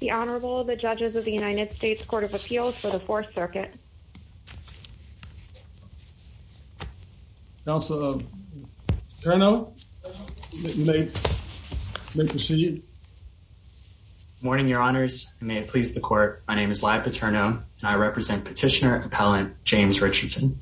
The Honorable, the Judges of the United States Court of Appeals for the Fourth Circuit. Councilor Paterno, you may proceed. Good morning, Your Honors, and may it please the Court, my name is Lyle Paterno and I represent Petitioner Appellant James Richardson.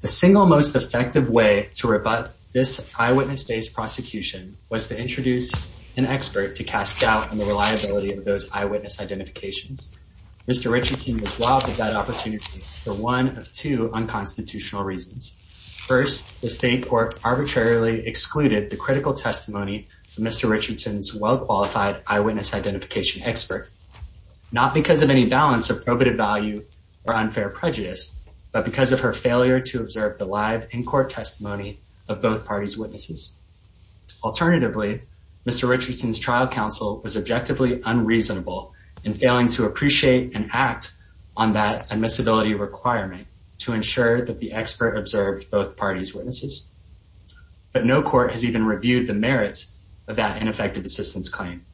The single most effective way to rip up this eyewitness-based prosecution was to introduce an expert to cast doubt on the reliability of those eyewitness identifications. Mr. Richardson was robbed of that opportunity for one of two unconstitutional reasons. First, the State Court arbitrarily excluded the critical testimony from Mr. Richardson's well-qualified eyewitness identification expert, not because of any balance of probative value or unfair prejudice, but because of her failure to observe the live, in-court testimony of both parties' witnesses. Alternatively, Mr. Richardson's trial counsel was objectively unreasonable in failing to appreciate and act on that admissibility requirement to ensure that the expert observed both parties' witnesses. But no court has even reviewed the merits of that ineffective assistance claim.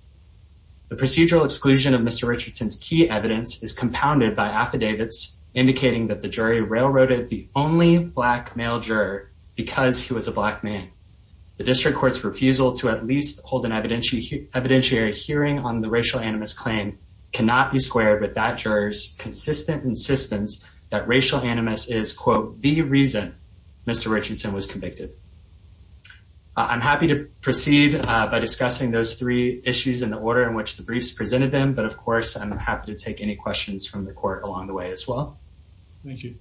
The procedural exclusion of Mr. Richardson's key evidence is compounded by affidavits indicating that the jury railroaded the only Black male juror because he was a Black man. The district court's refusal to at least hold an evidentiary hearing on the racial animus claim cannot be squared with that juror's consistent insistence that racial animus is quote, the reason Mr. Richardson was convicted. I'm happy to proceed by discussing those three issues in the order in which the briefs presented them, but of course, I'm happy to take any questions from the court along the way as well. Thank you.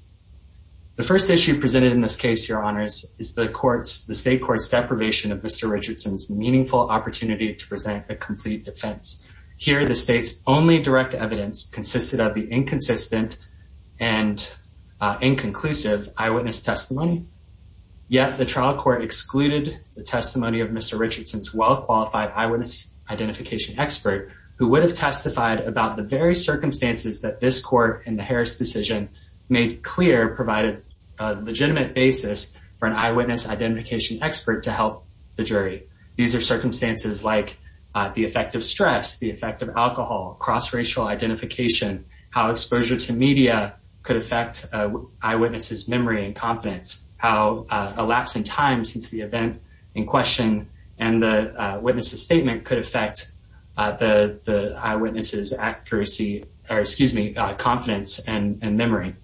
The first issue presented in this case, Your Honors, is the state court's deprivation of Mr. Richardson's meaningful opportunity to present a complete defense. Here, the state's only direct evidence consisted of the inconsistent and inconclusive eyewitness testimony, yet the trial court excluded the testimony of Mr. Richardson's well-qualified eyewitness identification expert who would have testified about the very circumstances that this court in the Harris decision made clear provided a legitimate basis for an eyewitness identification expert to help the jury. These are circumstances like the effect of stress, the effect of alcohol, cross-racial identification, how exposure to media could affect eyewitnesses' memory and confidence, how a lapse in time since the event in question and the witness's statement could affect the eyewitnesses' confidence and memory.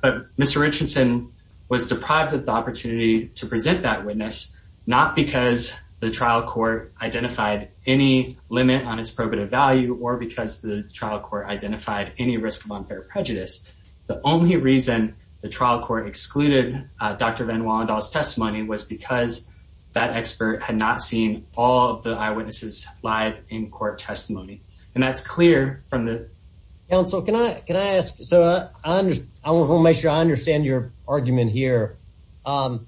But Mr. Richardson was deprived of the opportunity to present that witness not because the trial court identified any limit on its probative value or because the trial court identified any risk of unfair prejudice. The only reason the trial court excluded Dr. Van Wallendaal's testimony was because that expert had not seen all of the eyewitnesses' live in-court testimony. And that's clear from the- Counsel, can I ask, so I want to make sure I understand your argument here. And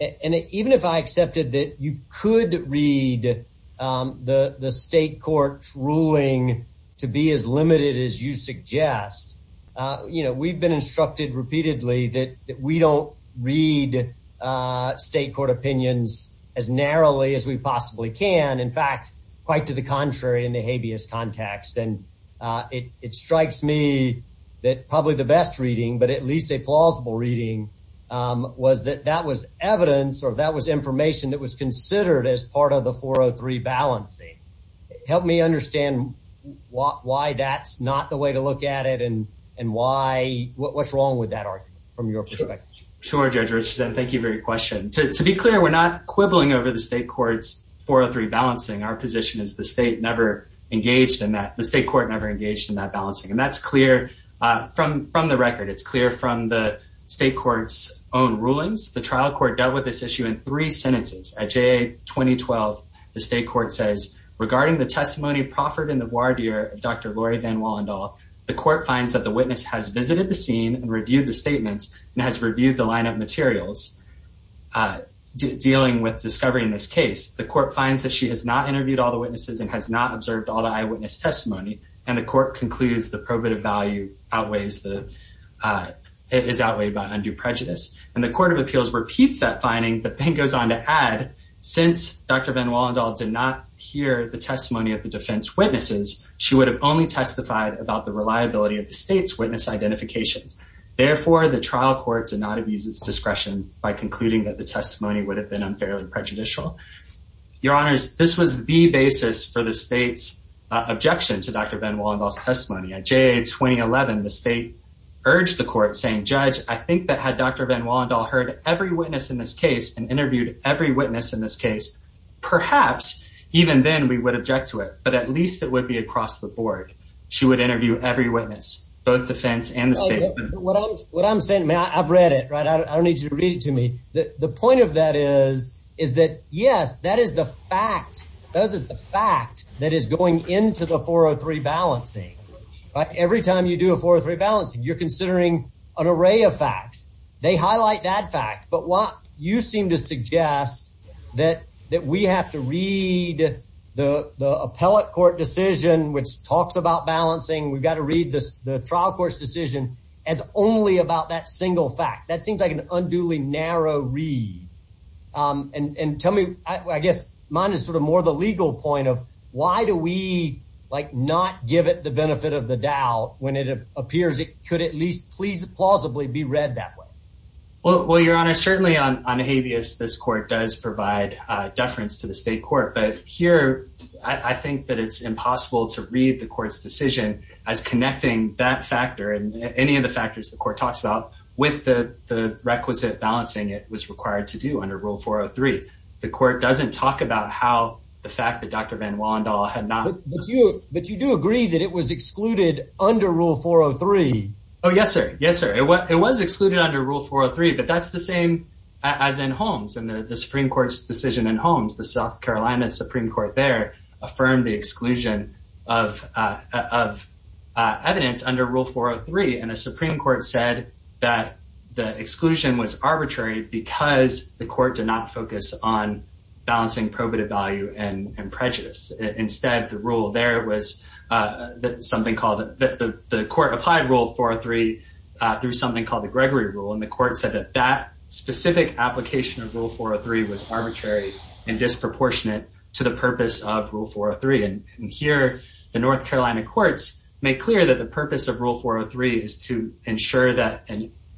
even if I accepted that you could read the state court's ruling to be as limited as you suggest, you know, we've been instructed repeatedly that we don't read state court opinions as narrowly as we possibly can, in fact, quite to the contrary in the habeas context. And it strikes me that probably the best reading, but at least a plausible reading, was that that was evidence or that was information that was considered as part of the 403 balancing. Help me understand why that's not the way to look at it and what's wrong with that argument from your perspective. Sure, Judge Richardson. Thank you for your question. To be clear, we're not quibbling over the state court's 403 balancing. Our position is the state never engaged in that. The state court never engaged in that balancing. And that's clear from the record. It's clear from the state court's own rulings. The trial court dealt with this issue in three sentences. At JA 2012, the state court says, regarding the testimony proffered in the voir dire of Dr. Laurie Van Wallendal, the court finds that the witness has visited the scene and reviewed the statements and has reviewed the line of materials dealing with discovering this case. The court finds that she has not interviewed all the witnesses and has not observed all the eyewitness testimony. And the court concludes the probative value is outweighed by undue prejudice. And the court of appeals repeats that finding, but then goes on to add, since Dr. Van Wallendal did not hear the testimony of the defense witnesses, she would have only testified about the reliability of the state's witness identifications. Therefore, the trial court did not abuse its discretion by concluding that the testimony would have been unfairly prejudicial. Your Honors, this was the basis for the state's objection to Dr. Van Wallendal's testimony. At JA 2011, the state urged the court, saying, Judge, I think that had Dr. Van Wallendal heard every witness in this case and interviewed every witness in this case, perhaps even then we would object to it. But at least it would be across the board. She would interview every witness, both defense and the state. What I'm saying, I've read it, right? I don't need you to read it to me. The point of that is, is that, yes, that is the fact. That is the fact that is going into the 403 balancing. Every time you do a 403 balancing, you're considering an array of facts. They highlight that fact. But what you seem to suggest, that we have to read the appellate court decision, which talks about balancing, we've got to read the trial court's decision, as only about that single fact. That seems like an unduly narrow read. And tell me, I guess mine is sort of more the legal point of, why do we not give it the benefit of the doubt when it appears it could at least plausibly be read that way? Well, Your Honor, certainly on habeas, this court does provide deference to the state court. But here, I think that it's impossible to read the court's decision as connecting that factor and any of the factors the court talks about with the requisite balancing it was to under Rule 403. The court doesn't talk about how the fact that Dr. Van Wallendaal had not... But you do agree that it was excluded under Rule 403. Oh, yes, sir. Yes, sir. It was excluded under Rule 403, but that's the same as in Holmes and the Supreme Court's decision in Holmes. The South Carolina Supreme Court there affirmed the exclusion of evidence under Rule 403. And the Supreme Court said that the exclusion was arbitrary because the court did not focus on balancing probative value and prejudice. Instead, the rule there was something called... The court applied Rule 403 through something called the Gregory Rule. And the court said that that specific application of Rule 403 was arbitrary and disproportionate to the purpose of Rule 403. And here, the North Carolina courts make clear that the purpose of Rule 403 is to ensure that...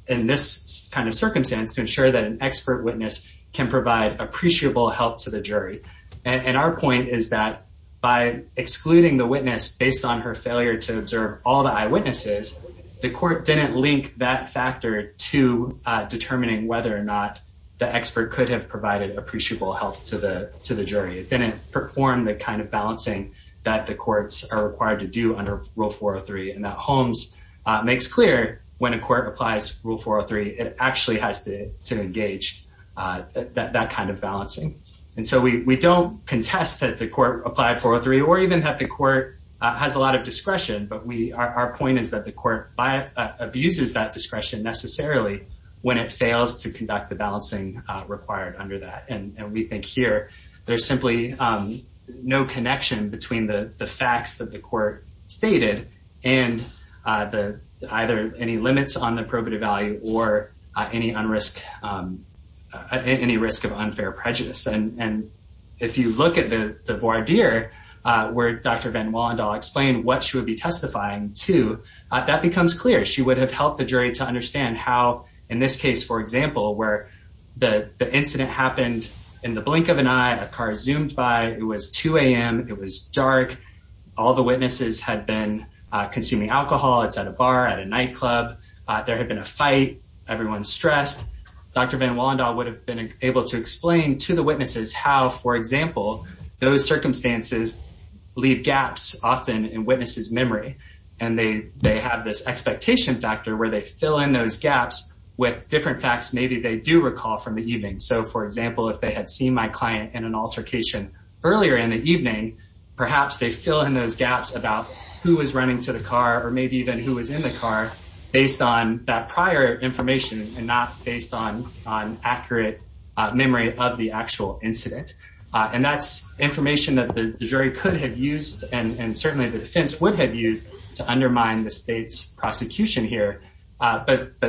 In this kind of circumstance, to ensure that an expert witness can provide appreciable help to the jury. And our point is that by excluding the witness based on her failure to observe all the eyewitnesses, the court didn't link that factor to determining whether or not the expert could have provided appreciable help to the jury. It didn't perform the kind of balancing that the courts are required to do under Rule 403. And Holmes makes clear when a court applies Rule 403, it actually has to engage that kind of balancing. And so we don't contest that the court applied 403 or even that the court has a lot of discretion. But our point is that the court abuses that discretion necessarily when it fails to conduct the balancing required under that. And we think here, there's simply no connection between the facts that the court stated and either any limits on the probative value or any risk of unfair prejudice. And if you look at the voir dire where Dr. Van Wallendal explained what she would be testifying to, that becomes clear. She would have helped the jury to understand how, in this case, for example, where the witness had been in the blink of an eye, a car zoomed by, it was 2 a.m., it was dark, all the witnesses had been consuming alcohol, it's at a bar, at a nightclub, there had been a fight, everyone's stressed, Dr. Van Wallendal would have been able to explain to the witnesses how, for example, those circumstances leave gaps often in witnesses' memory. And they have this expectation factor where they fill in those gaps with different facts maybe they do recall from the evening. So, for example, if they had seen my client in an altercation earlier in the evening, perhaps they fill in those gaps about who was running to the car or maybe even who was in the car based on that prior information and not based on accurate memory of the actual incident. And that's information that the jury could have used and certainly the defense would have used to undermine the state's prosecution here. But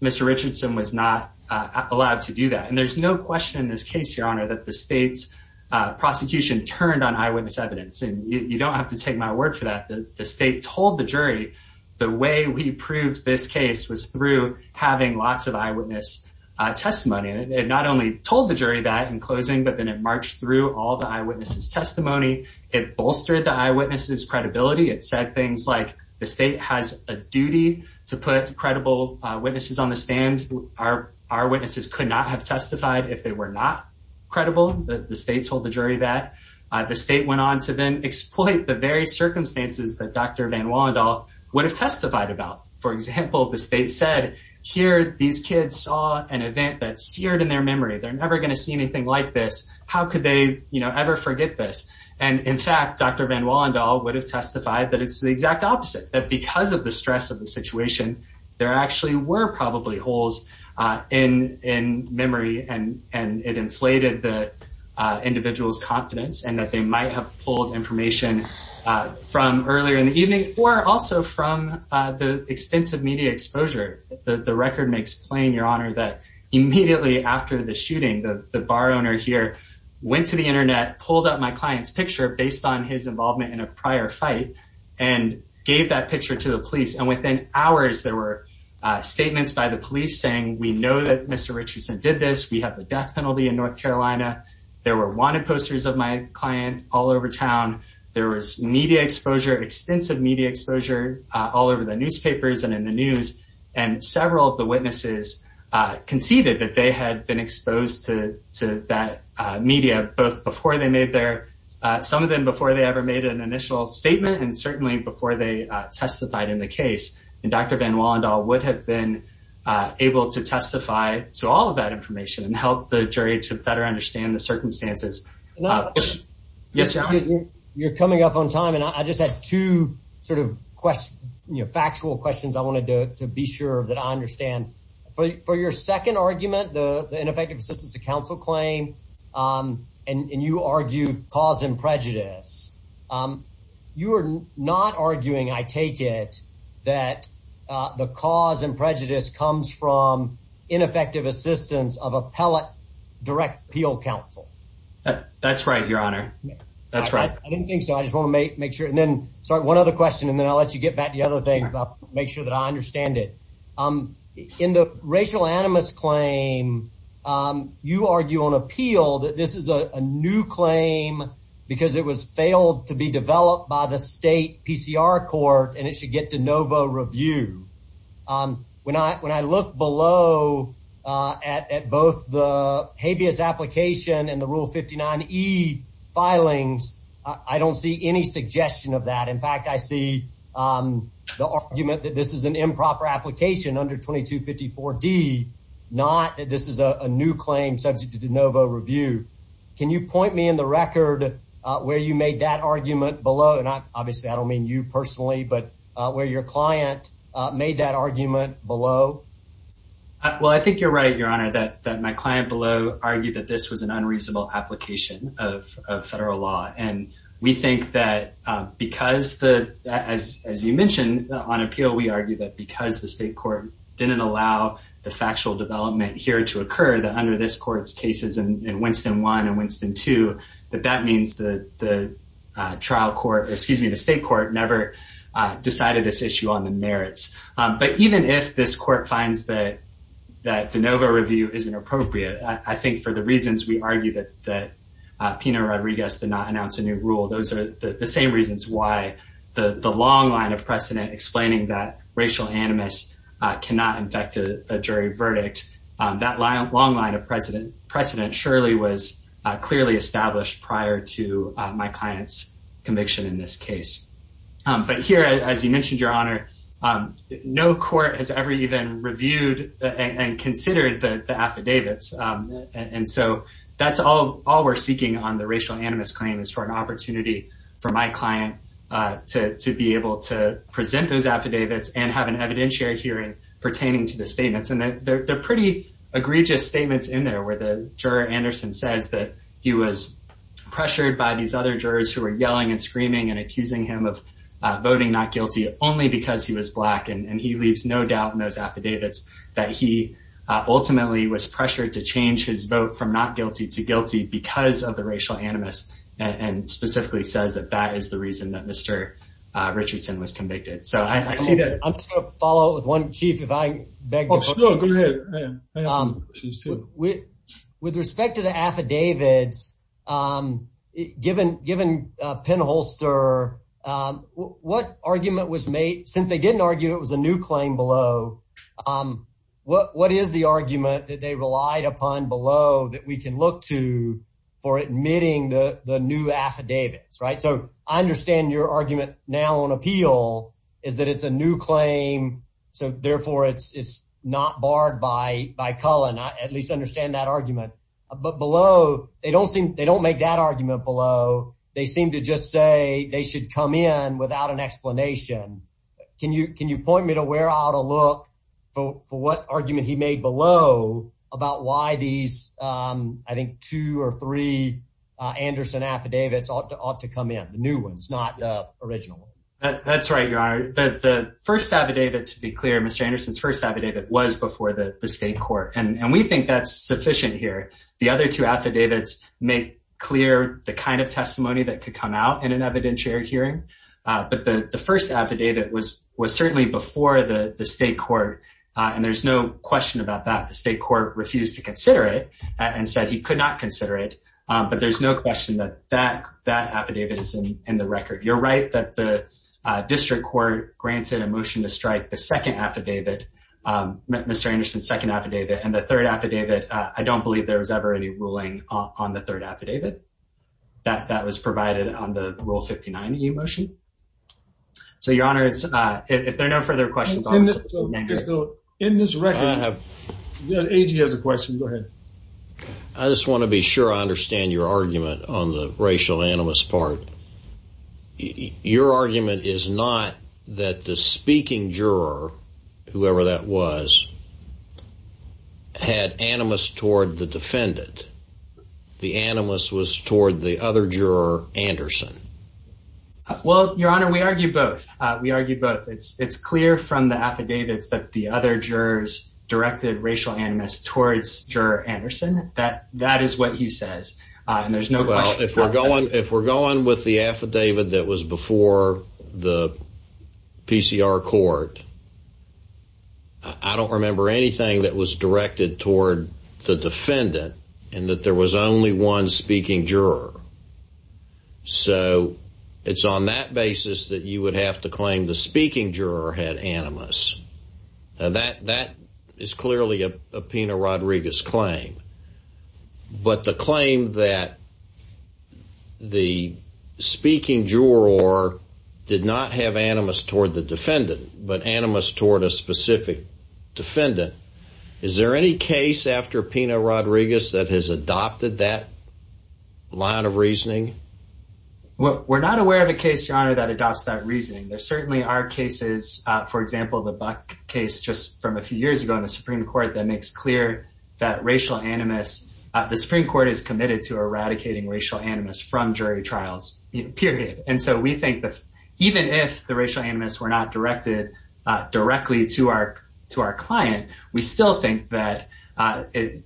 Mr. Richardson was not allowed to do that. And there's no question in this case, Your Honor, that the state's prosecution turned on eyewitness evidence. And you don't have to take my word for that. The state told the jury the way we proved this case was through having lots of eyewitness testimony. And it not only told the jury that in closing, but then it marched through all the eyewitnesses' testimony. It bolstered the eyewitnesses' credibility. It said things like the state has a duty to put credible witnesses on the stand. Our witnesses could not have testified if they were not credible. The state told the jury that. The state went on to then exploit the very circumstances that Dr. Van Wallendaal would have testified about. For example, the state said, here, these kids saw an event that seared in their memory. They're never going to see anything like this. How could they, you know, ever forget this? And, in fact, Dr. Van Wallendaal would have testified that it's the exact opposite, that because of the stress of the situation, there actually were probably holes in memory. And it inflated the individual's confidence and that they might have pulled information from earlier in the evening or also from the extensive media exposure. The record makes plain, Your Honor, that immediately after the shooting, the bar owner here went to the Internet, pulled up my client's picture based on his involvement in a prior fight, and gave that picture to the police. And within hours, there were statements by the police saying, we know that Mr. Richardson did this. We have the death penalty in North Carolina. There were wanted posters of my client all over town. There was media exposure, extensive media exposure, all over the newspapers and in the news. And several of the witnesses conceded that they had been exposed to that media, both before they made their – some of them before they ever made an initial statement and certainly before they testified in the case. And Dr. Van Wallendaal would have been able to testify to all of that information and help the jury to better understand the circumstances. Yes, Your Honor? You're coming up on time, and I just have two sort of factual questions I wanted to be sure that I understand. For your second argument, the ineffective assistance of counsel claim, and you argue cause and prejudice, you are not arguing, I take it, that the cause and prejudice comes from ineffective assistance of appellate direct appeal counsel. That's right, Your Honor. That's right. I didn't think so. I just want to make sure. And then, sorry, one other question, and then I'll let you get back to the other things. I'll make sure that I understand it. In the racial animus claim, you argue on appeal that this is a new claim because it was failed to be developed by the state PCR court and it should get to NOVO review. When I look below at both the habeas application and the Rule 59e filings, I don't see any suggestion of that. In fact, I see the argument that this is an improper application under 2254D, not that this is a new claim subject to NOVO review. Can you point me in the record where you made that argument below? And obviously, I don't mean you personally, but where your client made that argument below. Well, I think you're right, Your Honor, that my client below argued that this was an unreasonable application of federal law. And we think that because, as you mentioned on appeal, we argue that because the state court didn't allow the factual development here to occur, that under this court's cases in Winston 1 and Winston 2, that that means the state court never decided this issue on the merits. But even if this court finds that the NOVO review isn't appropriate, I think for the reasons we argue that Pena Rodriguez did not announce a new rule, those are the same reasons why the long line of precedent explaining that racial animus cannot infect a jury verdict, that long line of precedent surely was clearly established prior to my client's conviction in this case. But here, as you mentioned, Your Honor, no court has ever even reviewed and considered the affidavits. And so that's all we're seeking on the racial animus claim is for an opportunity for my client to be able to present those affidavits and have an evidentiary hearing pertaining to the statements. And they're pretty egregious statements in there where the juror, Anderson, says that he was pressured by these other jurors who are yelling and screaming and accusing him of voting not guilty only because he was black. And he leaves no doubt in those affidavits that he ultimately was pressured to change his vote from not guilty to guilty because of the racial animus, and specifically says that that is the reason that Mr. Richardson was convicted. So I see that. I'm just going to follow up with one, Chief, if I may. With respect to the affidavits, given Penholster, what argument was made, since they didn't argue it was a new claim below, what is the argument that they relied upon below that we can look to for admitting the new affidavits? So I understand your argument now on appeal is that it's a new claim, so therefore it's not barred by Cullen. I at least understand that argument. But below, they don't make that argument below. They seem to just say they should come in without an explanation. Can you point me to where I ought to look for what argument he made below about why these, I think, two or three Anderson affidavits ought to come in, the new ones, not the original? That's right, Your Honor. The first affidavit, to be clear, Mr. Anderson's first affidavit was before the state court. And we think that's sufficient here. The other two affidavits make clear the kind of testimony that could come out in an evidentiary hearing. But the first affidavit was certainly before the state court. And there's no question about that. The state court refused to consider it and said he could not consider it. But there's no question that that affidavit is in the record. You're right that the district court granted a motion to strike the second affidavit, Mr. Anderson's second affidavit, and the third affidavit. I don't believe there was ever any ruling on the third affidavit. That was provided on the Rule 59 EU motion. So, Your Honor, if there are no further questions, I'll just end here. In this record, A.G. has a question. Go ahead. I just want to be sure I understand your argument on the racial animus part. Your argument is not that the speaking juror, whoever that was, had animus toward the defendant. The animus was toward the other juror, Anderson. Well, Your Honor, we argue both. We argue both. It's clear from the affidavits that the other jurors directed racial animus towards Juror Anderson. That is what he says. And there's no question about that. If we're going with the affidavit that was before the PCR court, I don't remember anything that was directed toward the defendant and that there was only one speaking juror. So it's on that basis that you would have to claim the speaking juror had animus. That is clearly a Pena-Rodriguez claim. But the claim that the speaking juror did not have animus toward the defendant, but animus toward a specific defendant, is there any case after Pena-Rodriguez that has adopted that line of reasoning? We're not aware of a case, Your Honor, that adopts that reasoning. There certainly are cases, for example, the Buck case just from a few years ago in the Supreme Court, that makes clear that racial animus, the Supreme Court is committed to eradicating racial animus from jury trials, period. And so we think that even if the racial animus were not directed directly to our client, we still think that it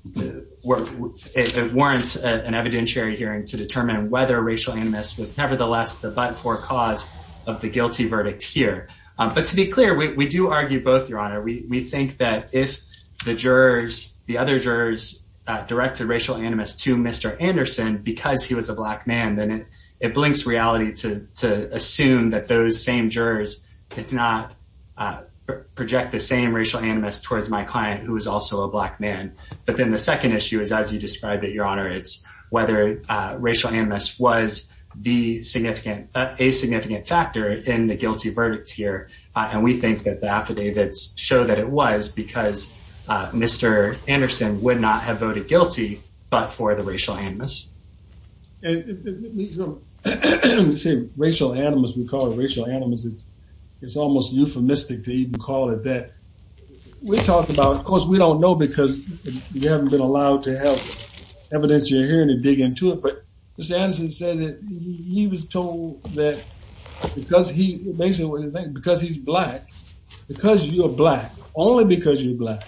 warrants an evidentiary hearing to determine whether racial animus was nevertheless the but-for cause of the guilty verdict here. But to be clear, we do argue both, Your Honor. We think that if the jurors, the other jurors, directed racial animus to Mr. Anderson because he was a black man, then it blinks reality to assume that those same jurors did not project the same racial animus towards my client, who was also a black man. But then the second issue is, as you described it, Your Honor, it's whether racial animus was a significant factor in the guilty verdict here. And we think that the affidavits show that it was because Mr. Anderson would not have voted guilty but for the racial animus. We say racial animus, we call it racial animus. It's almost euphemistic to even call it that. We talk about, of course, we don't know because we haven't been allowed to have evidentiary hearing to dig into it. But Mr. Anderson said that he was told that because he's black, because you're black, only because you're black,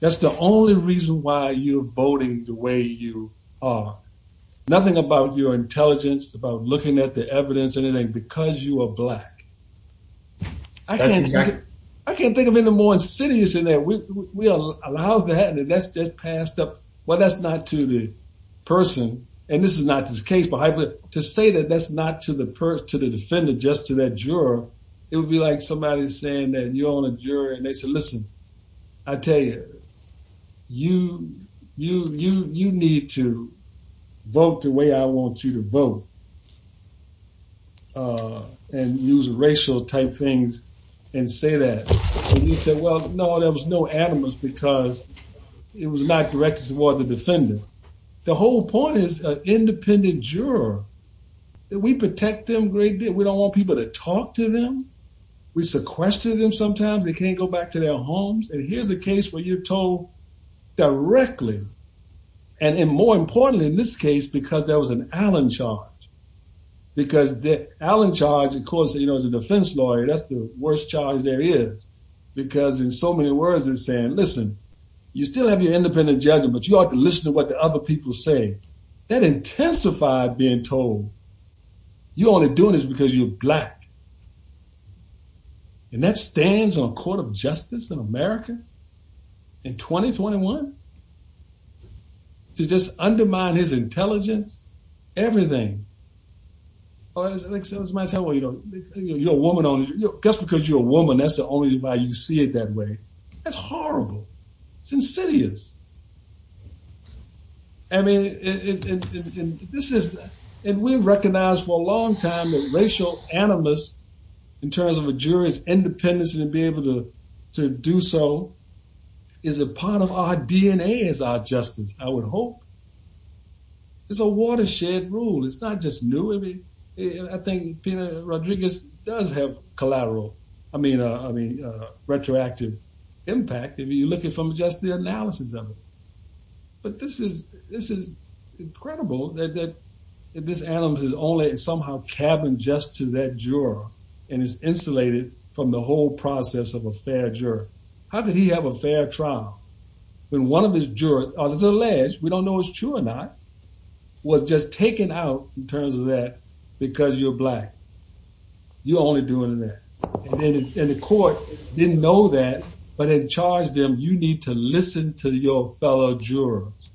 that's the only reason why you're voting the way you are. Nothing about your intelligence, about looking at the evidence, anything, because you are black. I can't think of any more insidious than that. We allow that and that's just passed up. Well, that's not to the person. And this is not this case, but to say that that's not to the person, to the defendant, just to that juror, it would be like somebody saying that you're on a jury and they said, listen, I tell you, you need to vote the way I want you to vote. And use racial type things and say that. And he said, well, no, there was no animus because it was not directed toward the defendant. The whole point is an independent juror. We protect them a great deal. We don't want people to talk to them. We sequester them sometimes. They can't go back to their homes. And here's a case where you're told directly, and more importantly in this case, because there was an Allen charge. Because the Allen charge, of course, as a defense lawyer, that's the worst charge there is. Because in so many words, it's saying, listen, you still have your independent judgment, but you ought to listen to what the other people say. That intensified being told you're only doing this because you're black. And that stands on a court of justice in America in 2021? To just undermine his intelligence? Everything. Like somebody said, well, you know, you're a woman. Just because you're a woman, that's the only way you see it that way. That's horrible. It's insidious. I mean, this is, and we've recognized for a long time that racial animus in terms of a jury's independence and to be able to do so is a part of our DNA as our justice, I would hope. It's a watershed rule. It's not just new. I think Peter Rodriguez does have collateral, I mean, retroactive impact. You're looking from just the analysis of it. But this is incredible that this animus is only somehow cabined just to that juror and is insulated from the whole process of a fair juror. How could he have a fair trial when one of his jurors, alleged, we don't know it's true or not, was just taken out in terms of that because you're black? You're only doing that. And the court didn't know that, but it charged them, you need to listen to your fellow jurors.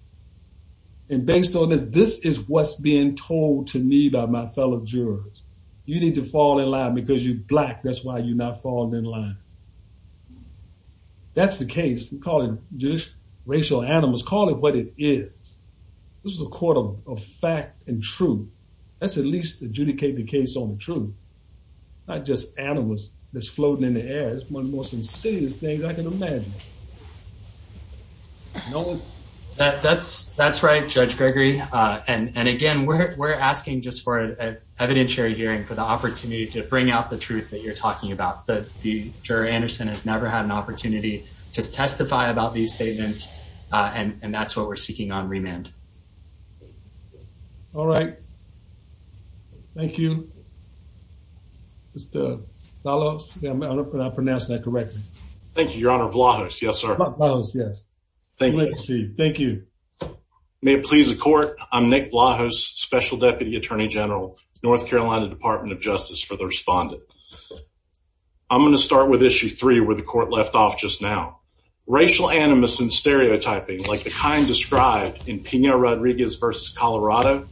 And based on this, this is what's being told to me by my fellow jurors. You need to fall in line because you're black. That's why you're not falling in line. That's the case. We call it racial animus. Call it what it is. This is a court of fact and truth. Let's at least adjudicate the case on the truth, not just animus that's floating in the air. It's one of the most insidious things I can imagine. That's right, Judge Gregory. And, again, we're asking just for an evidentiary hearing for the opportunity to bring out the truth that you're talking about. The juror, Anderson, has never had an opportunity to testify about these statements, and that's what we're seeking on remand. All right. Thank you. Mr. Vlahos. I don't know if I pronounced that correctly. Thank you, Your Honor. Vlahos, yes, sir. Vlahos, yes. Thank you. Thank you. May it please the court, I'm Nick Vlahos, Special Deputy Attorney General, North Carolina Department of Justice, for the respondent. I'm going to start with issue three where the court left off just now. Racial animus and stereotyping like the kind described in Pena-Rodriguez v. Colorado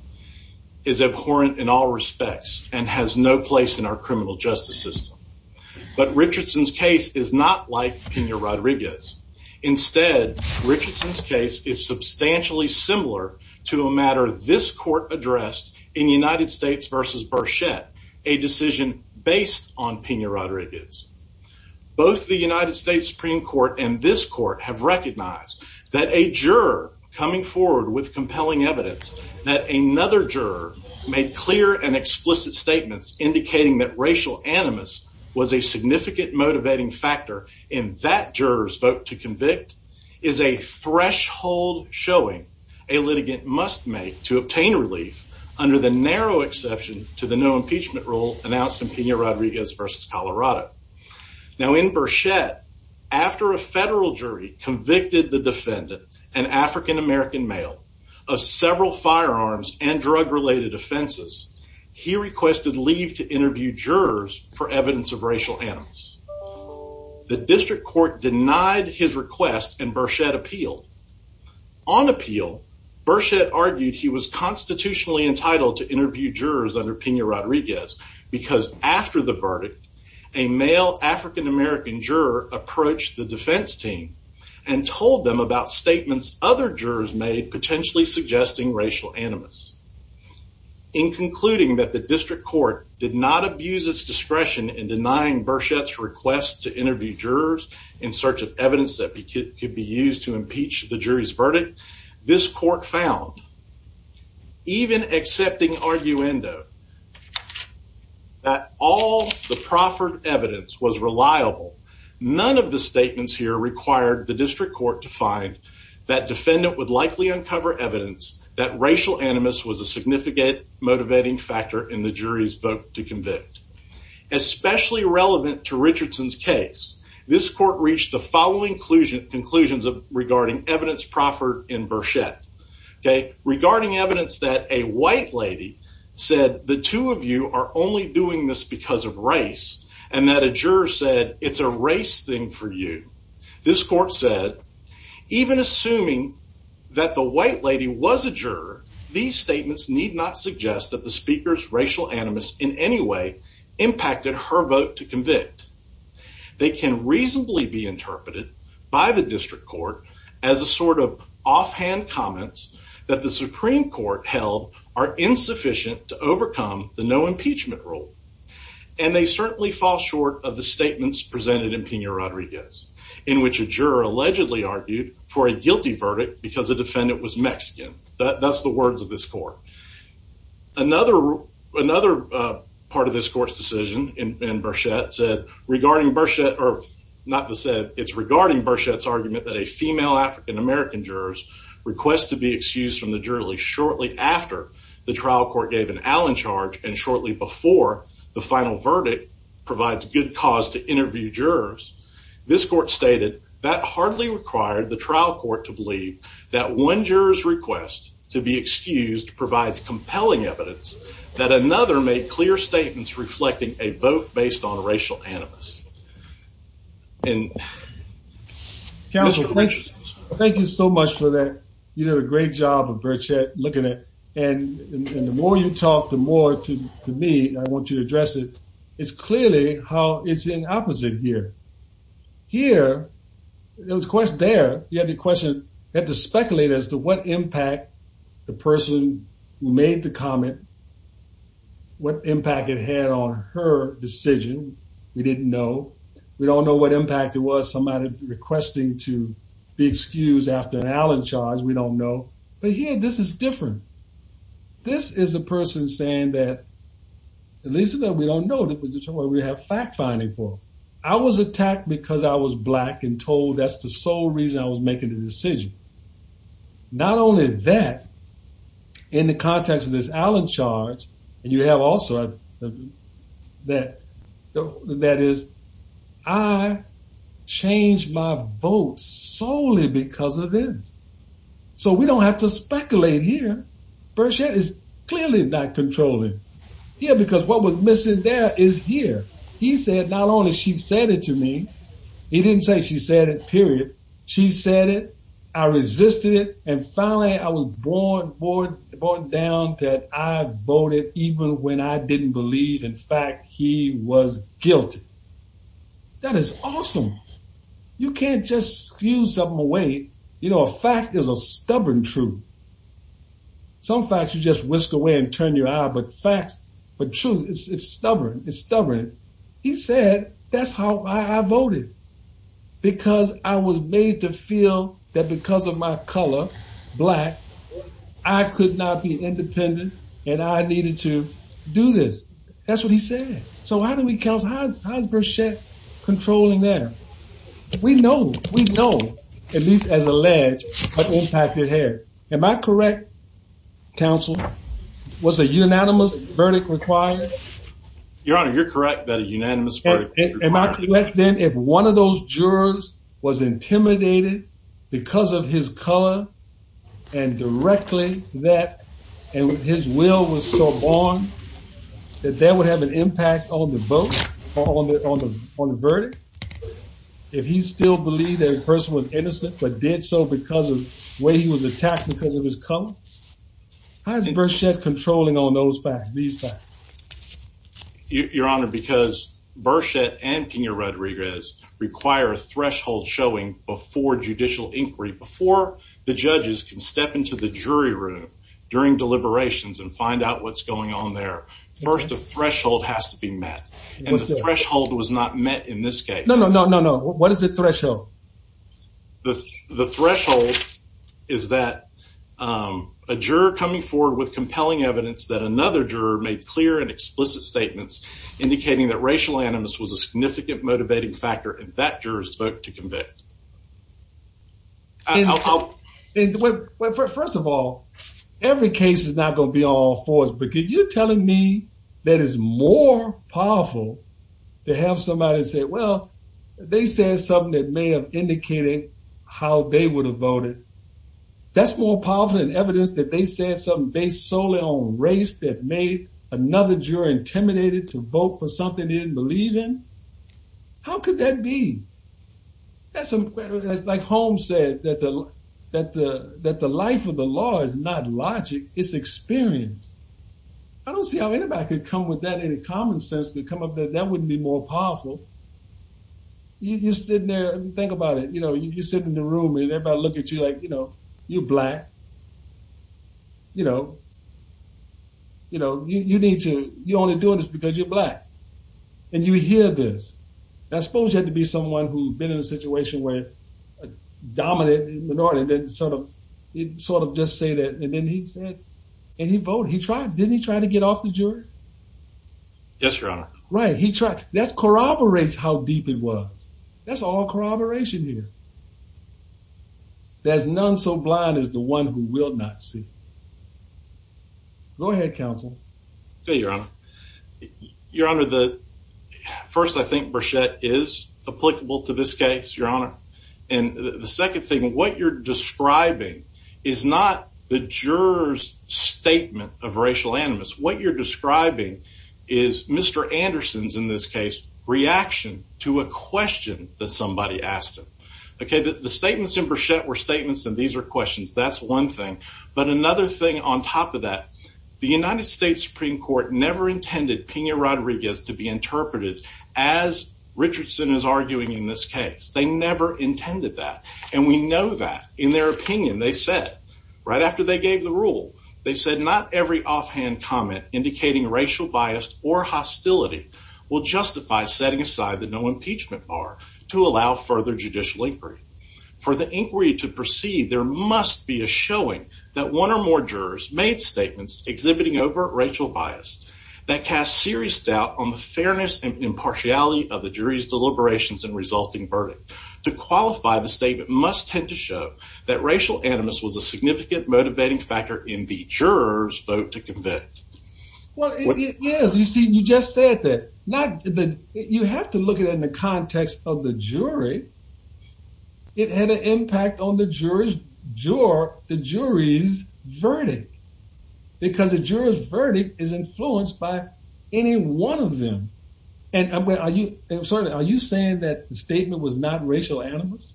is abhorrent in all respects and has no place in our criminal justice system. But Richardson's case is not like Pena-Rodriguez. Instead, Richardson's case is substantially similar to a matter this court addressed in United States v. Burchette, a decision based on Pena-Rodriguez. Both the United States Supreme Court and this court have recognized that a juror coming forward with compelling evidence, that another juror made clear and explicit statements indicating that racial animus was a significant motivating factor in that juror's vote to convict, is a threshold showing a litigant must make to obtain relief under the narrow exception to the no impeachment rule announced in Pena-Rodriguez v. Colorado. Now in Burchette, after a federal jury convicted the defendant, an African-American male, of several firearms and drug-related offenses, he requested leave to interview jurors for evidence of racial animus. The district court denied his request and Burchette appealed. On appeal, Burchette argued he was constitutionally entitled to interview jurors under Pena-Rodriguez because after the verdict, a male African-American juror approached the defense team and told them about statements other jurors made potentially suggesting racial animus. In concluding that the district court did not abuse its discretion in denying Burchette's request to interview jurors in search of evidence that could be used to impeach the jury's verdict, this court found, even accepting arguendo, that all the proffered evidence was reliable. None of the statements here required the district court to find that defendant would likely uncover evidence that racial animus was a significant motivating factor in the jury's vote to convict. Especially relevant to Richardson's case, this court reached the following conclusions regarding evidence proffered in Burchette. Regarding evidence that a white lady said the two of you are only doing this because of race and that a juror said it's a race thing for you, this court said, even assuming that the white lady was a juror, these statements need not suggest that the speaker's racial animus in any way impacted her vote to convict. They can reasonably be interpreted by the district court as a sort of offhand comments that the Supreme Court held are insufficient to overcome the no impeachment rule. And they certainly fall short of the statements presented in Pena-Rodriguez, in which a juror allegedly argued for a guilty verdict because the defendant was Mexican. That's the words of this court. Another part of this court's decision in Burchette said, it's regarding Burchette's argument that a female African American juror's request to be excused from the jury shortly after the trial court gave an Allen charge and shortly before the final verdict provides good cause to interview jurors. This court stated that hardly required the trial court to believe that one juror's request to be excused provides compelling evidence that another made clear statements reflecting a vote based on racial animus. And. Counsel, thank you so much for that. You did a great job of Burchette looking at it. And the more you talk, the more to me I want you to address it. It's clearly how it's in opposite here. Here, it was question there. You have the question that to speculate as to what impact the person made the comment. What impact it had on her decision. We didn't know. We don't know what impact it was. Somebody requesting to be excused after an Allen charge. We don't know. But here, this is different. This is a person saying that at least that we don't know that we have fact finding for. I was attacked because I was black and told that's the sole reason I was making the decision. Not only that, in the context of this Allen charge, and you have also that is I changed my vote solely because of this. So we don't have to speculate here. Burchette is clearly not controlling here because what was missing there is here. He said not only she said it to me. He didn't say she said it, period. She said it. I resisted it. And finally, I was born down that I voted even when I didn't believe. In fact, he was guilty. That is awesome. You can't just fuse something away. You know, a fact is a stubborn truth. Some facts you just whisk away and turn your eye, but facts, but truth, it's stubborn. It's stubborn. He said that's how I voted because I was made to feel that because of my color, black, I could not be independent. And I needed to do this. That's what he said. So how do we count? How's how's Burchette controlling there? We know. We know. At least as a ledge, but impacted hair. Am I correct? Council was a unanimous verdict required. Your Honor, you're correct. That is unanimous. Am I correct? Then if one of those jurors was intimidated because of his color and directly that and his will was so born that that would have an impact on the vote on the on the verdict. If he still believe that person was innocent, but did so because of the way he was attacked because of his color. How's Burchette controlling on those facts, these facts? Your Honor, because Burchette and Pena Rodriguez require a threshold showing before judicial inquiry, before the judges can step into the jury room during deliberations and find out what's going on there. First, a threshold has to be met. And the threshold was not met in this case. No, no, no, no, no. What is the threshold? The threshold is that a juror coming forward with compelling evidence that another juror made clear and explicit statements indicating that racial animus was a significant motivating factor. In fact, jurors spoke to convict. Well, first of all, every case is not going to be all fours because you're telling me that is more powerful to have somebody say, well, they said something that may have indicated how they would have voted. That's more powerful than evidence that they said something based solely on race that made another juror intimidated to vote for something they didn't believe in. How could that be? That's like Holmes said, that the life of the law is not logic, it's experience. I don't see how anybody could come with that in a common sense to come up with that. That wouldn't be more powerful. You're sitting there, think about it. You know, you're sitting in the room and everybody look at you like, you know, you're black. You know, you know, you need to, you're only doing this because you're black. And you hear this. I suppose you had to be someone who'd been in a situation where a dominant minority didn't sort of, didn't sort of just say that. And then he said, and he voted. He tried. Didn't he try to get off the jury? Yes, Your Honor. Right. He tried. That corroborates how deep it was. That's all corroboration here. There's none so blind as the one who will not see. Go ahead, counsel. Okay, Your Honor. Your Honor, first I think Burchette is applicable to this case, Your Honor. And the second thing, what you're describing is not the juror's statement of racial animus. What you're describing is Mr. Anderson's, in this case, reaction to a question that somebody asked him. Okay, the statements in Burchette were statements and these were questions. That's one thing. But another thing on top of that, the United States Supreme Court never intended Pena-Rodriguez to be interpreted as Richardson is arguing in this case. They never intended that. And we know that. In their opinion, they said, right after they gave the rule, they said, not every offhand comment indicating racial bias or hostility will justify setting aside the no impeachment bar to allow further judicial inquiry. For the inquiry to proceed, there must be a showing that one or more jurors made statements exhibiting overt racial bias that cast serious doubt on the fairness and impartiality of the jury's deliberations and resulting verdict. To qualify, the statement must tend to show that racial animus was a significant motivating factor in the juror's vote to convict. Well, yeah. You see, you just said that. You have to look at it in the context of the jury. It had an impact on the jury's verdict. Because a juror's verdict is influenced by any one of them. And I'm sorry, are you saying that the statement was not racial animus?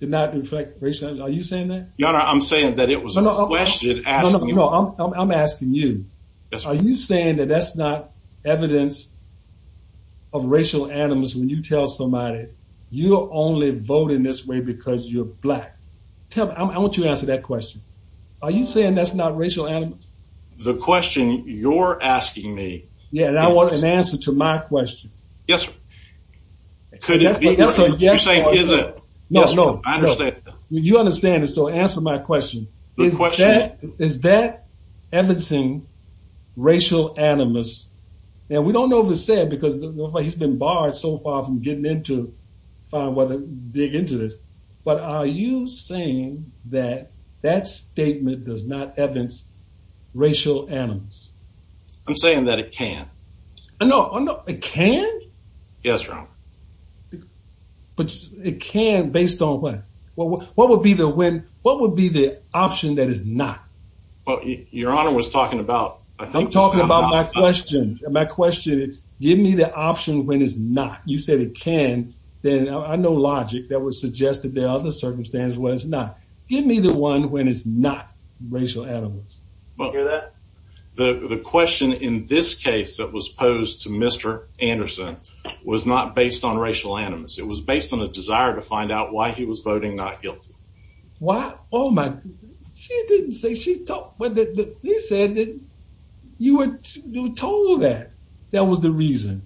Did not reflect racial animus? Are you saying that? I'm saying that it was a question. I'm asking you. Are you saying that that's not evidence of racial animus when you tell somebody you're only voting this way because you're black? I want you to answer that question. Are you saying that's not racial animus? The question you're asking me. Yeah, and I want an answer to my question. Yes. Could it be? Yes. No, no. You understand it, so answer my question. Is that evidencing racial animus? And we don't know if it's said because he's been barred so far from getting in to dig into this. But are you saying that that statement does not evidence racial animus? I'm saying that it can. No, it can? Yes, Your Honor. But it can based on what? What would be the option that is not? Well, Your Honor was talking about. I'm talking about my question. My question is give me the option when it's not. You said it can. Then I know logic that was suggested there are other circumstances where it's not. Give me the one when it's not racial animus. Well, the question in this case that was posed to Mr. Anderson was not based on racial animus. It was based on a desire to find out why he was voting not guilty. Why? Oh, my. She didn't say. She said that you were told that that was the reason.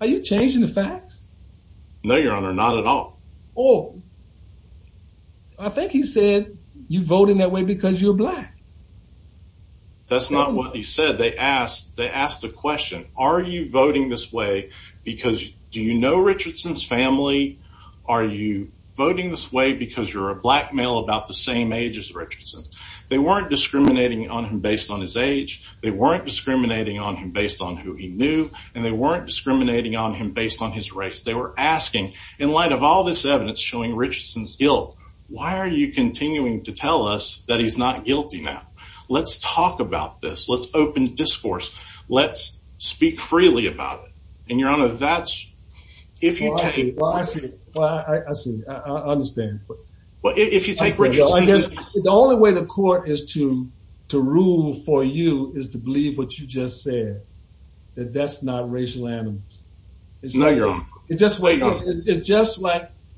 Are you changing the facts? No, Your Honor, not at all. Oh, I think he said you voting that way because you're black. That's not what he said. They asked a question. Are you voting this way because do you know Richardson's family? Are you voting this way because you're a black male about the same age as Richardson? They weren't discriminating on him based on his age. They weren't discriminating on him based on who he knew. And they weren't discriminating on him based on his race. They were asking in light of all this evidence showing Richardson's guilt, why are you continuing to tell us that he's not guilty now? Let's talk about this. Let's open discourse. Let's speak freely about it. And, Your Honor, that's if you take… Well, I see. I see. I understand. Well, if you take… I guess the only way the court is to rule for you is to believe what you just said, that that's not racial animus. No, Your Honor. It's just like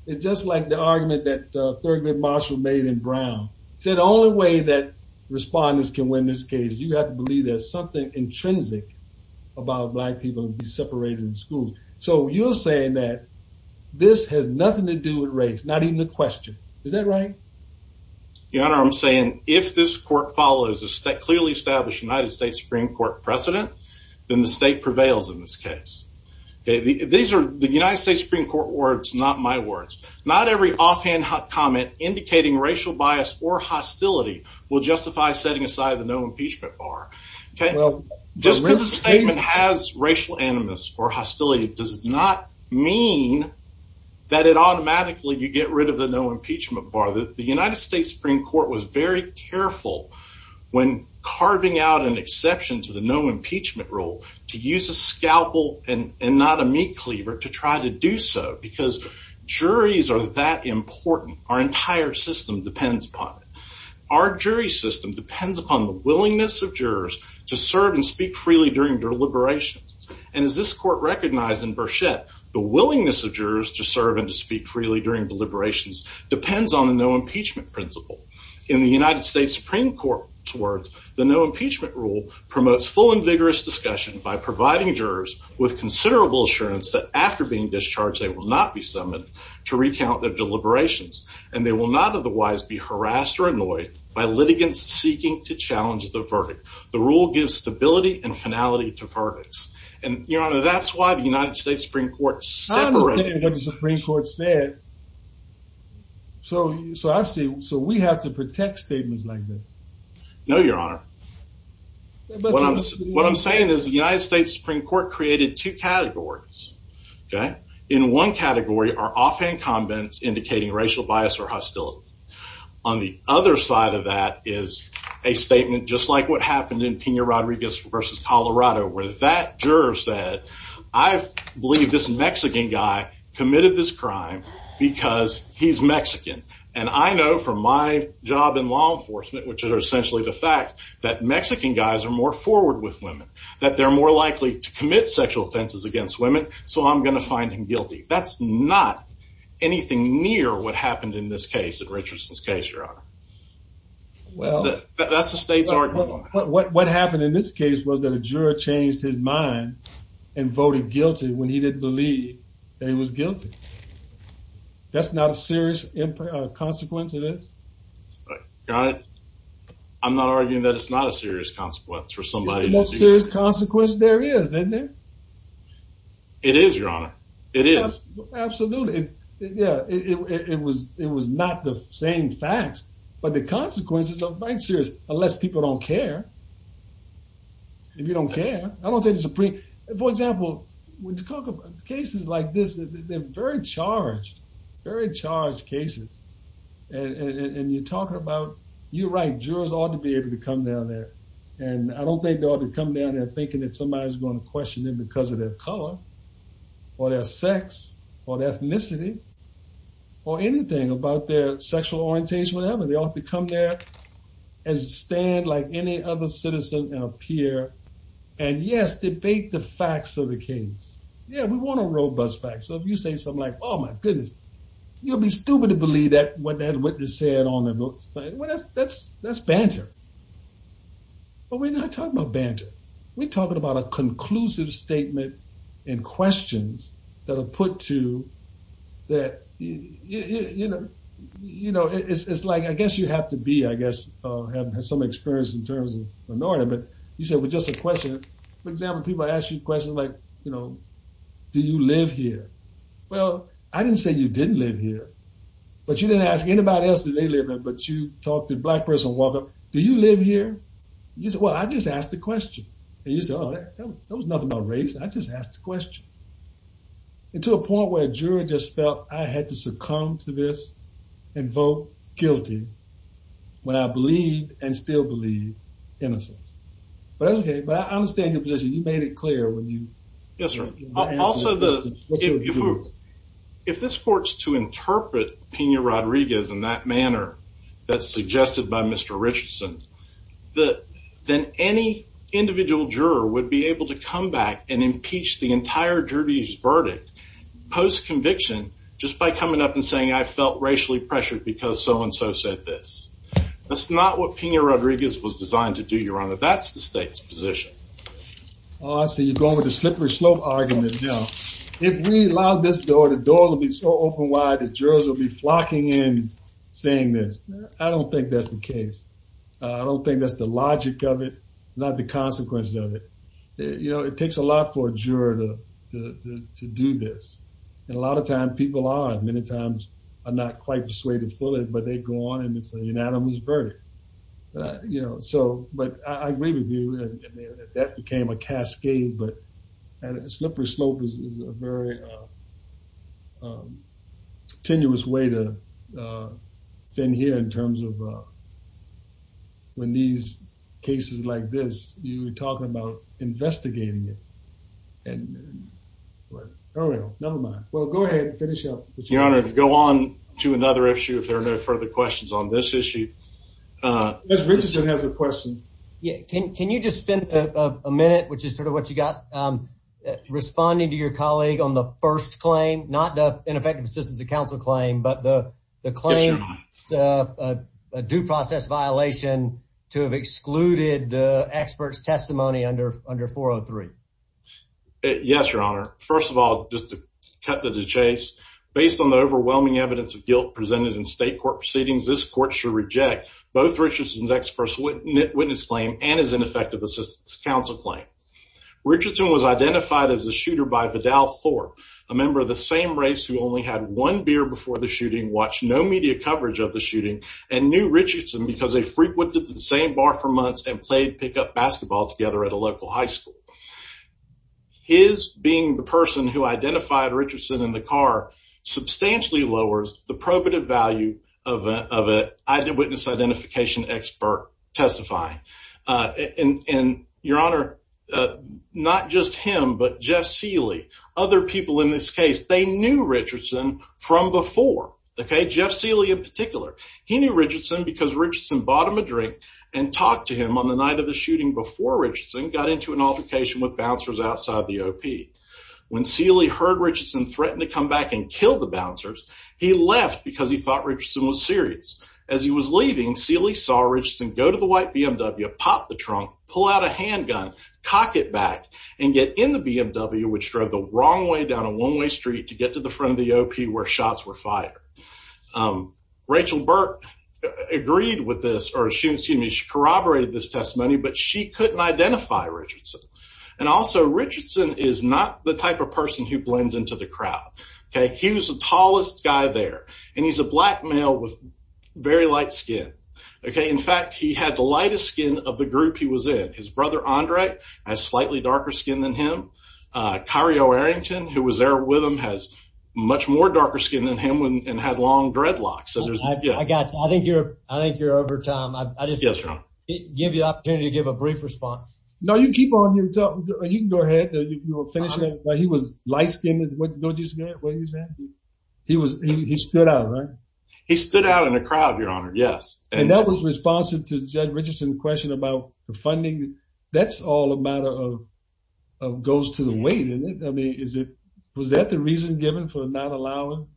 the argument that Thurgood Marshall made in Brown. He said the only way that respondents can win this case is you have to believe there's something intrinsic about black people being separated in schools. So you're saying that this has nothing to do with race, not even a question. Is that right? Your Honor, I'm saying if this court follows a clearly established United States Supreme Court precedent, then the state prevails in this case. These are the United States Supreme Court words, not my words. Not every offhand comment indicating racial bias or hostility will justify setting aside the no impeachment bar. Just because a statement has racial animus or hostility does not mean that it automatically, you get rid of the no impeachment bar. The United States Supreme Court was very careful when carving out an exception to the no impeachment rule to use a scalpel and not a meat cleaver to try to do so because juries are that important. Our entire system depends upon it. Our jury system depends upon the willingness of jurors to serve and speak freely during deliberations. And as this court recognized in Burchett, the willingness of jurors to serve and to speak freely during deliberations depends on the no impeachment principle. In the United States Supreme Court's words, the no impeachment rule promotes full and vigorous discussion by providing jurors with considerable assurance that after being discharged, they will not be summoned to recount their deliberations and they will not otherwise be harassed or annoyed by litigants seeking to challenge the verdict. The rule gives stability and finality to verdicts. And Your Honor, that's why the United States Supreme Court separated- That's what the United States Supreme Court said. So we have to protect statements like this. No, Your Honor. What I'm saying is the United States Supreme Court created two categories. In one category are offhand comments indicating racial bias or hostility. On the other side of that is a statement just like what happened in Pena Rodriguez v. Colorado, where that juror said, I believe this Mexican guy committed this crime because he's Mexican. And I know from my job in law enforcement, which are essentially the facts, that Mexican guys are more forward with women, that they're more likely to commit sexual offenses against women, so I'm going to find him guilty. That's not anything near what happened in this case, in Richardson's case, Your Honor. Well- That's the state's argument. What happened in this case was that a juror changed his mind and voted guilty when he didn't believe that he was guilty. That's not a serious consequence of this? Your Honor, I'm not arguing that it's not a serious consequence for somebody- It's the most serious consequence there is, isn't it? It is, Your Honor. It is. Absolutely. It was not the same facts, but the consequences are quite serious, unless people don't care. If you don't care, I don't think the Supreme- For example, when you talk about cases like this, they're very charged, very charged cases, and you're talking about, you're right, jurors ought to be able to come down there, and I don't think they ought to come down there thinking that somebody's going to question them because of their color or their sex or their ethnicity or anything about their sexual orientation or whatever. They ought to come there and stand like any other citizen and appear and, yes, debate the facts of the case. Yeah, we want a robust fact, so if you say something like, oh, my goodness, you'll be stupid to believe what that witness said on the books. That's banter, but we're not talking about banter. We're talking about a conclusive statement and questions that are put to that, you know, it's like I guess you have to be, I guess, have some experience in terms of minority, but you said with just a question. For example, people ask you questions like, you know, do you live here? Well, I didn't say you didn't live here, but you didn't ask anybody else that they live in, but you talked to a black person and walked up, do you live here? You said, well, I just asked a question. And you said, oh, that was nothing about race. I just asked a question. And to a point where a juror just felt I had to succumb to this and vote guilty when I believed and still believe innocence. But that's okay. But I understand your position. You made it clear when you. Yes, sir. Also, if this court is to interpret Pena-Rodriguez in that manner that's suggested by Mr. Richardson, then any individual juror would be able to come back and impeach the entire jury's verdict post-conviction just by coming up and saying I felt racially pressured because so and so said this. That's not what Pena-Rodriguez was designed to do, Your Honor. That's the state's position. Oh, I see you're going with the slippery slope argument now. If we allowed this door, the door would be so open wide the jurors would be flocking in saying this. I don't think that's the case. I don't think that's the logic of it, not the consequences of it. You know, it takes a lot for a juror to do this. And a lot of times people are, many times are not quite persuaded fully, but they go on and it's a unanimous verdict. You know, so, but I agree with you that that became a cascade, but a slippery slope is a very tenuous way to thin here in terms of when these cases like this, you were talking about investigating it. And, well, never mind. Well, go ahead and finish up. Your Honor, to go on to another issue, if there are no further questions on this issue. Judge Richardson has a question. Can you just spend a minute, which is sort of what you got, responding to your colleague on the first claim, not the ineffective assistance of counsel claim, but the claim to a due process violation to have excluded the expert's testimony under 403? Yes, Your Honor. First of all, just to cut to the chase, based on the overwhelming evidence of guilt presented in state court proceedings, this court should reject both Richardson's expert's witness claim and his ineffective assistance of counsel claim. Richardson was identified as a shooter by Vidal Thorpe, a member of the same race who only had one beer before the shooting, watched no media coverage of the shooting, and knew Richardson because they frequented the same bar for months and played pickup basketball together at a local high school. His being the person who identified Richardson in the car substantially lowers the probative value of an eyewitness identification expert testifying. And, Your Honor, not just him, but Jeff Seeley, other people in this case, they knew Richardson from before, okay? Jeff Seeley in particular. He knew Richardson because Richardson bought him a drink and talked to him on the night of the shooting before Richardson got into an altercation with bouncers outside the OP. When Seeley heard Richardson threatened to come back and kill the bouncers, he left because he thought Richardson was serious. As he was leaving, Seeley saw Richardson go to the white BMW, pop the trunk, pull out a handgun, cock it back, and get in the BMW, which drove the wrong way down a one-way street to get to the front of the OP where shots were fired. Rachel Burt agreed with this, or she corroborated this testimony, but she couldn't identify Richardson. And also, Richardson is not the type of person who blends into the crowd, okay? He was the tallest guy there, and he's a black male with very light skin, okay? In fact, he had the lightest skin of the group he was in. His brother, Andre, has slightly darker skin than him. Kyrio Arrington, who was there with him, has much more darker skin than him and had long dreadlocks. I think you're over time. I'll just give you the opportunity to give a brief response. No, you keep on. You can go ahead. He was light-skinned. What did you say? He stood out, right? He stood out in the crowd, Your Honor, yes. And that was responsive to Judge Richardson's question about the funding. That's all a matter of goes to the weight, isn't it? Was that the reason given for not allowing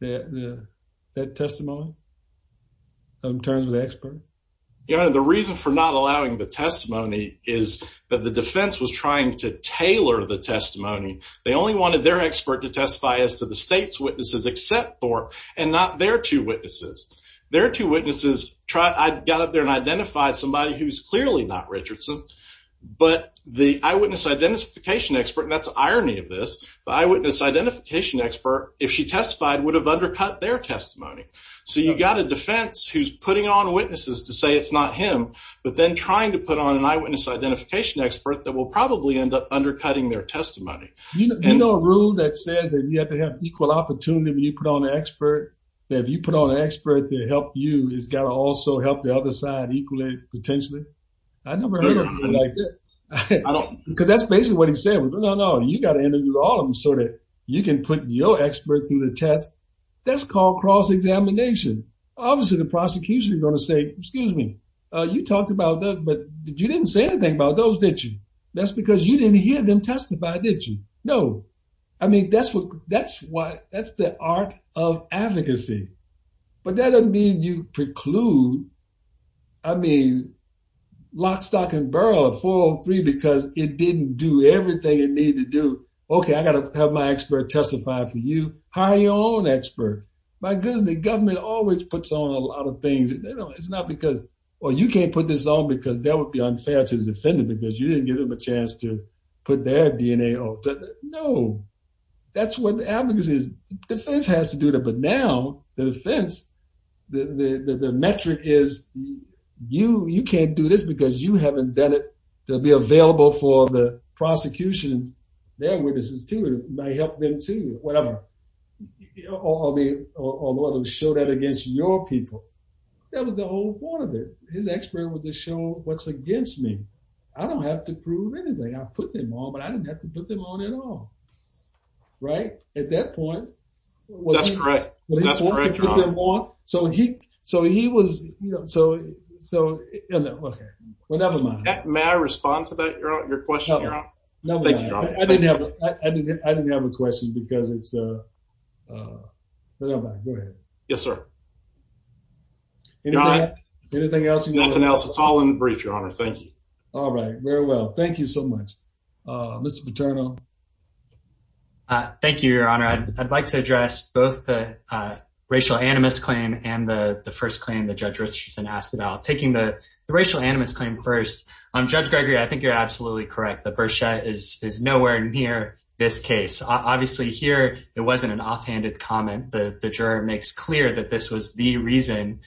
that testimony in terms of the expert? Your Honor, the reason for not allowing the testimony is that the defense was trying to tailor the testimony. They only wanted their expert to testify as to the state's witnesses except for and not their two witnesses. Their two witnesses got up there and identified somebody who's clearly not Richardson. But the eyewitness identification expert, and that's the irony of this, the eyewitness identification expert, if she testified, would have undercut their testimony. So you've got a defense who's putting on witnesses to say it's not him but then trying to put on an eyewitness identification expert that will probably end up undercutting their testimony. You know a rule that says that you have to have equal opportunity when you put on an expert, that if you put on an expert to help you, it's got to also help the other side equally potentially? I never heard of it like that. Because that's basically what he's saying. No, no, no, you've got to interview all of them so that you can put your expert through the test. That's called cross-examination. Obviously the prosecution is going to say, excuse me, you talked about those, but you didn't say anything about those, did you? That's because you didn't hear them testify, did you? No. I mean, that's the art of advocacy. But that doesn't mean you preclude, I mean, lock, stock, and burrow at 403 because it didn't do everything it needed to do. Okay, I've got to have my expert testify for you. Hire your own expert. My goodness, the government always puts on a lot of things. It's not because, well, you can't put this on because that would be unfair to the defendant because you didn't give them a chance to put their DNA on. No, that's what advocacy is. The defense has to do that. But now the defense, the metric is you can't do this because you haven't done it. They'll be available for the prosecution, their witnesses, too. It might help them, too, whatever, or show that against your people. That was the whole point of it. His expert was to show what's against me. I don't have to prove anything. I put them on, but I didn't have to put them on at all, right? At that point. That's correct. That's correct, Your Honor. So he was, you know, so, you know, okay. Well, never mind. May I respond to that, Your Honor, your question, Your Honor? Thank you, Your Honor. I didn't have a question because it's, you know, go ahead. Yes, sir. Your Honor. Anything else you want to add? Nothing else. It's all in the brief, Your Honor. Thank you. All right. Very well. Thank you so much. Mr. Paterno. Thank you, Your Honor. I'd like to address both the racial animus claim and the first claim that Judge Richardson asked about. Taking the racial animus claim first, Judge Gregory, I think you're absolutely correct. The Berchette is nowhere near this case. Obviously, here it wasn't an offhanded comment. The juror makes clear that this was the reason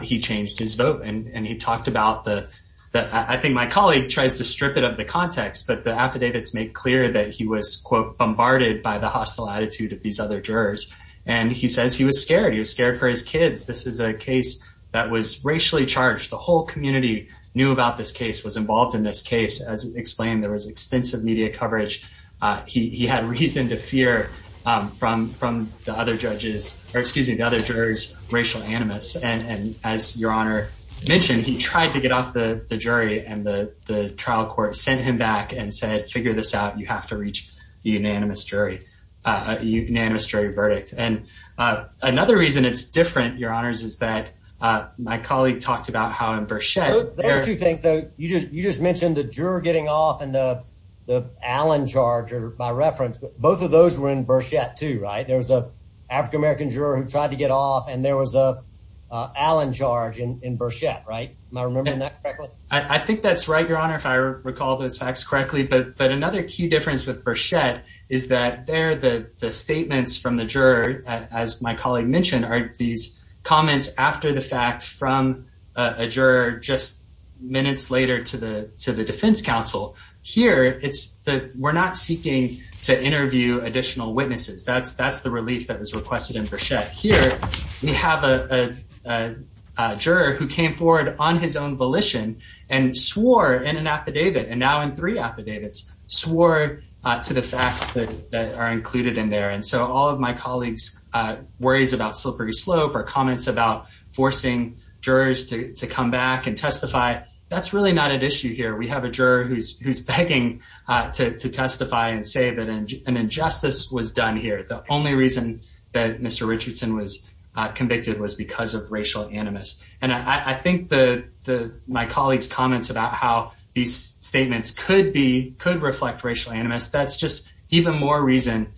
he changed his vote, and he talked about the – I think my colleague tries to strip it of the context, but the affidavits make clear that he was, quote, bombarded by the hostile attitude of these other jurors. And he says he was scared. He was scared for his kids. This is a case that was racially charged. The whole community knew about this case, was involved in this case. As explained, there was extensive media coverage. He had reason to fear from the other judges – or, excuse me, the other jurors' racial animus. And as Your Honor mentioned, he tried to get off the jury, and the trial court sent him back and said, figure this out. You have to reach a unanimous jury verdict. And another reason it's different, Your Honors, is that my colleague talked about how in Berchette – There are two things, though. You just mentioned the juror getting off and the Allen charge by reference. Both of those were in Berchette, too, right? There was an African-American juror who tried to get off, and there was an Allen charge in Berchette, right? Am I remembering that correctly? I think that's right, Your Honor, if I recall those facts correctly. But another key difference with Berchette is that there, the statements from the juror, as my colleague mentioned, are these comments after the fact from a juror just minutes later to the defense counsel. Here, we're not seeking to interview additional witnesses. That's the relief that was requested in Berchette. Here, we have a juror who came forward on his own volition and swore in an affidavit, and now in three affidavits, swore to the facts that are included in there. And so all of my colleague's worries about slippery slope or comments about forcing jurors to come back and testify, that's really not at issue here. We have a juror who's begging to testify and say that an injustice was done here. The only reason that Mr. Richardson was convicted was because of racial animus. And I think my colleague's comments about how these statements could reflect racial animus, that's just even more reason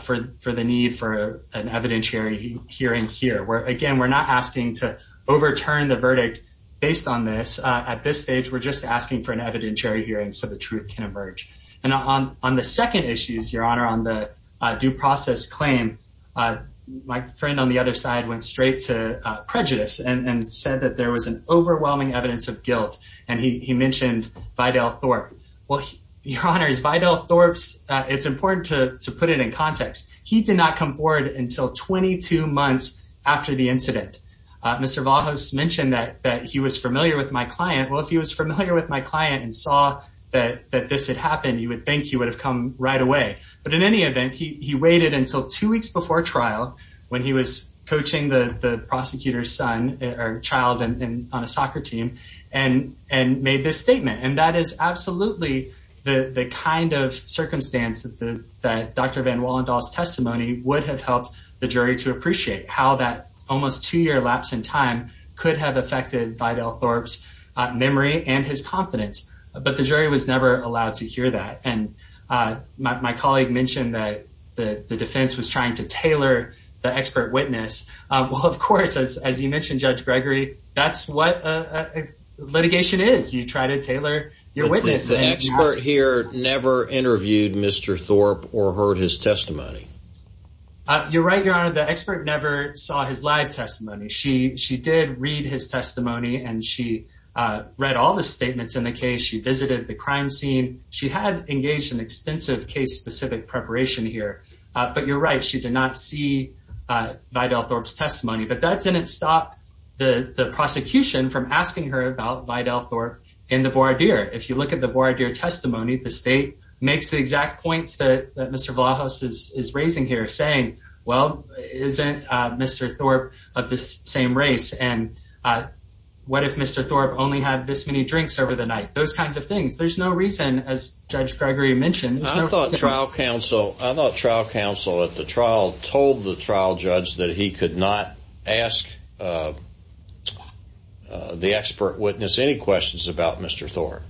for the need for an evidentiary hearing here. Again, we're not asking to overturn the verdict based on this. At this stage, we're just asking for an evidentiary hearing so the truth can emerge. And on the second issues, Your Honor, on the due process claim, my friend on the other side went straight to prejudice and said that there was an overwhelming evidence of guilt, and he mentioned Vidal Thorpe. Well, Your Honor, it's important to put it in context. He did not come forward until 22 months after the incident. Mr. Valhos mentioned that he was familiar with my client. Well, if he was familiar with my client and saw that this had happened, you would think he would have come right away. But in any event, he waited until two weeks before trial when he was coaching the prosecutor's son or child on a soccer team and made this statement. And that is absolutely the kind of circumstance that Dr. Van Wallendaal's testimony would have helped the jury to appreciate, how that almost two-year lapse in time could have affected Vidal Thorpe's memory and his confidence. But the jury was never allowed to hear that. And my colleague mentioned that the defense was trying to tailor the expert witness. Well, of course, as you mentioned, Judge Gregory, that's what litigation is. You try to tailor your witness. The expert here never interviewed Mr. Thorpe or heard his testimony. You're right, Your Honor. The expert never saw his live testimony. She did read his testimony, and she read all the statements in the case. She visited the crime scene. She had engaged in extensive case-specific preparation here. But you're right. She did not see Vidal Thorpe's testimony. But that didn't stop the prosecution from asking her about Vidal Thorpe in the voir dire. If you look at the voir dire testimony, the state makes the exact points that Mr. Vlahos is raising here, saying, well, isn't Mr. Thorpe of the same race, and what if Mr. Thorpe only had this many drinks over the night, those kinds of things. There's no reason, as Judge Gregory mentioned. I thought trial counsel at the trial told the trial judge that he could not ask the expert witness any questions about Mr. Thorpe.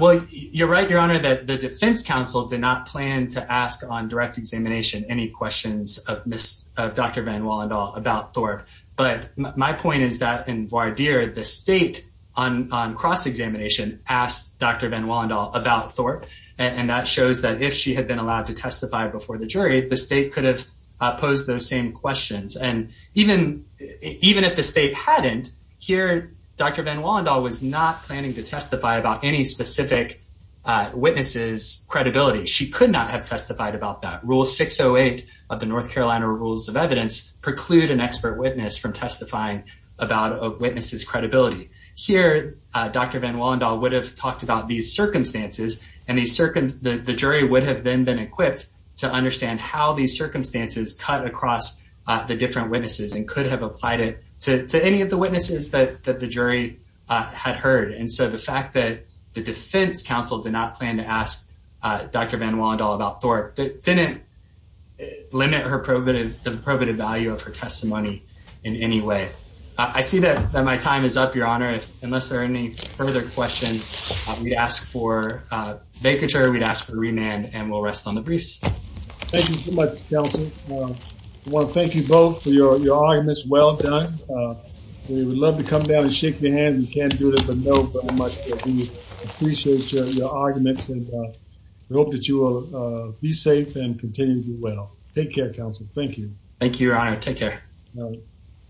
Well, you're right, Your Honor, that the defense counsel did not plan to ask on direct examination any questions of Dr. Van Wallendal about Thorpe. But my point is that in voir dire, the state on cross-examination asked Dr. Van Wallendal about Thorpe, and that shows that if she had been allowed to testify before the jury, the state could have posed those same questions. And even if the state hadn't, here Dr. Van Wallendal was not planning to testify about any specific witness's credibility. She could not have testified about that. Rule 608 of the North Carolina Rules of Evidence preclude an expert witness from testifying about a witness's credibility. Here, Dr. Van Wallendal would have talked about these circumstances, and the jury would have then been equipped to understand how these circumstances cut across the different witnesses and could have applied it to any of the witnesses that the jury had heard. And so the fact that the defense counsel did not plan to ask Dr. Van Wallendal about Thorpe didn't limit the probative value of her testimony in any way. I see that my time is up, Your Honor. Unless there are any further questions, we'd ask for vacatur, we'd ask for remand, and we'll rest on the briefs. Thank you so much, counsel. I want to thank you both for your arguments. Well done. We would love to come down and shake your hand. We can't do this, but know very much that we appreciate your arguments, and we hope that you will be safe and continue to do well. Take care, counsel. Thank you. Thank you, Your Honor. Take care.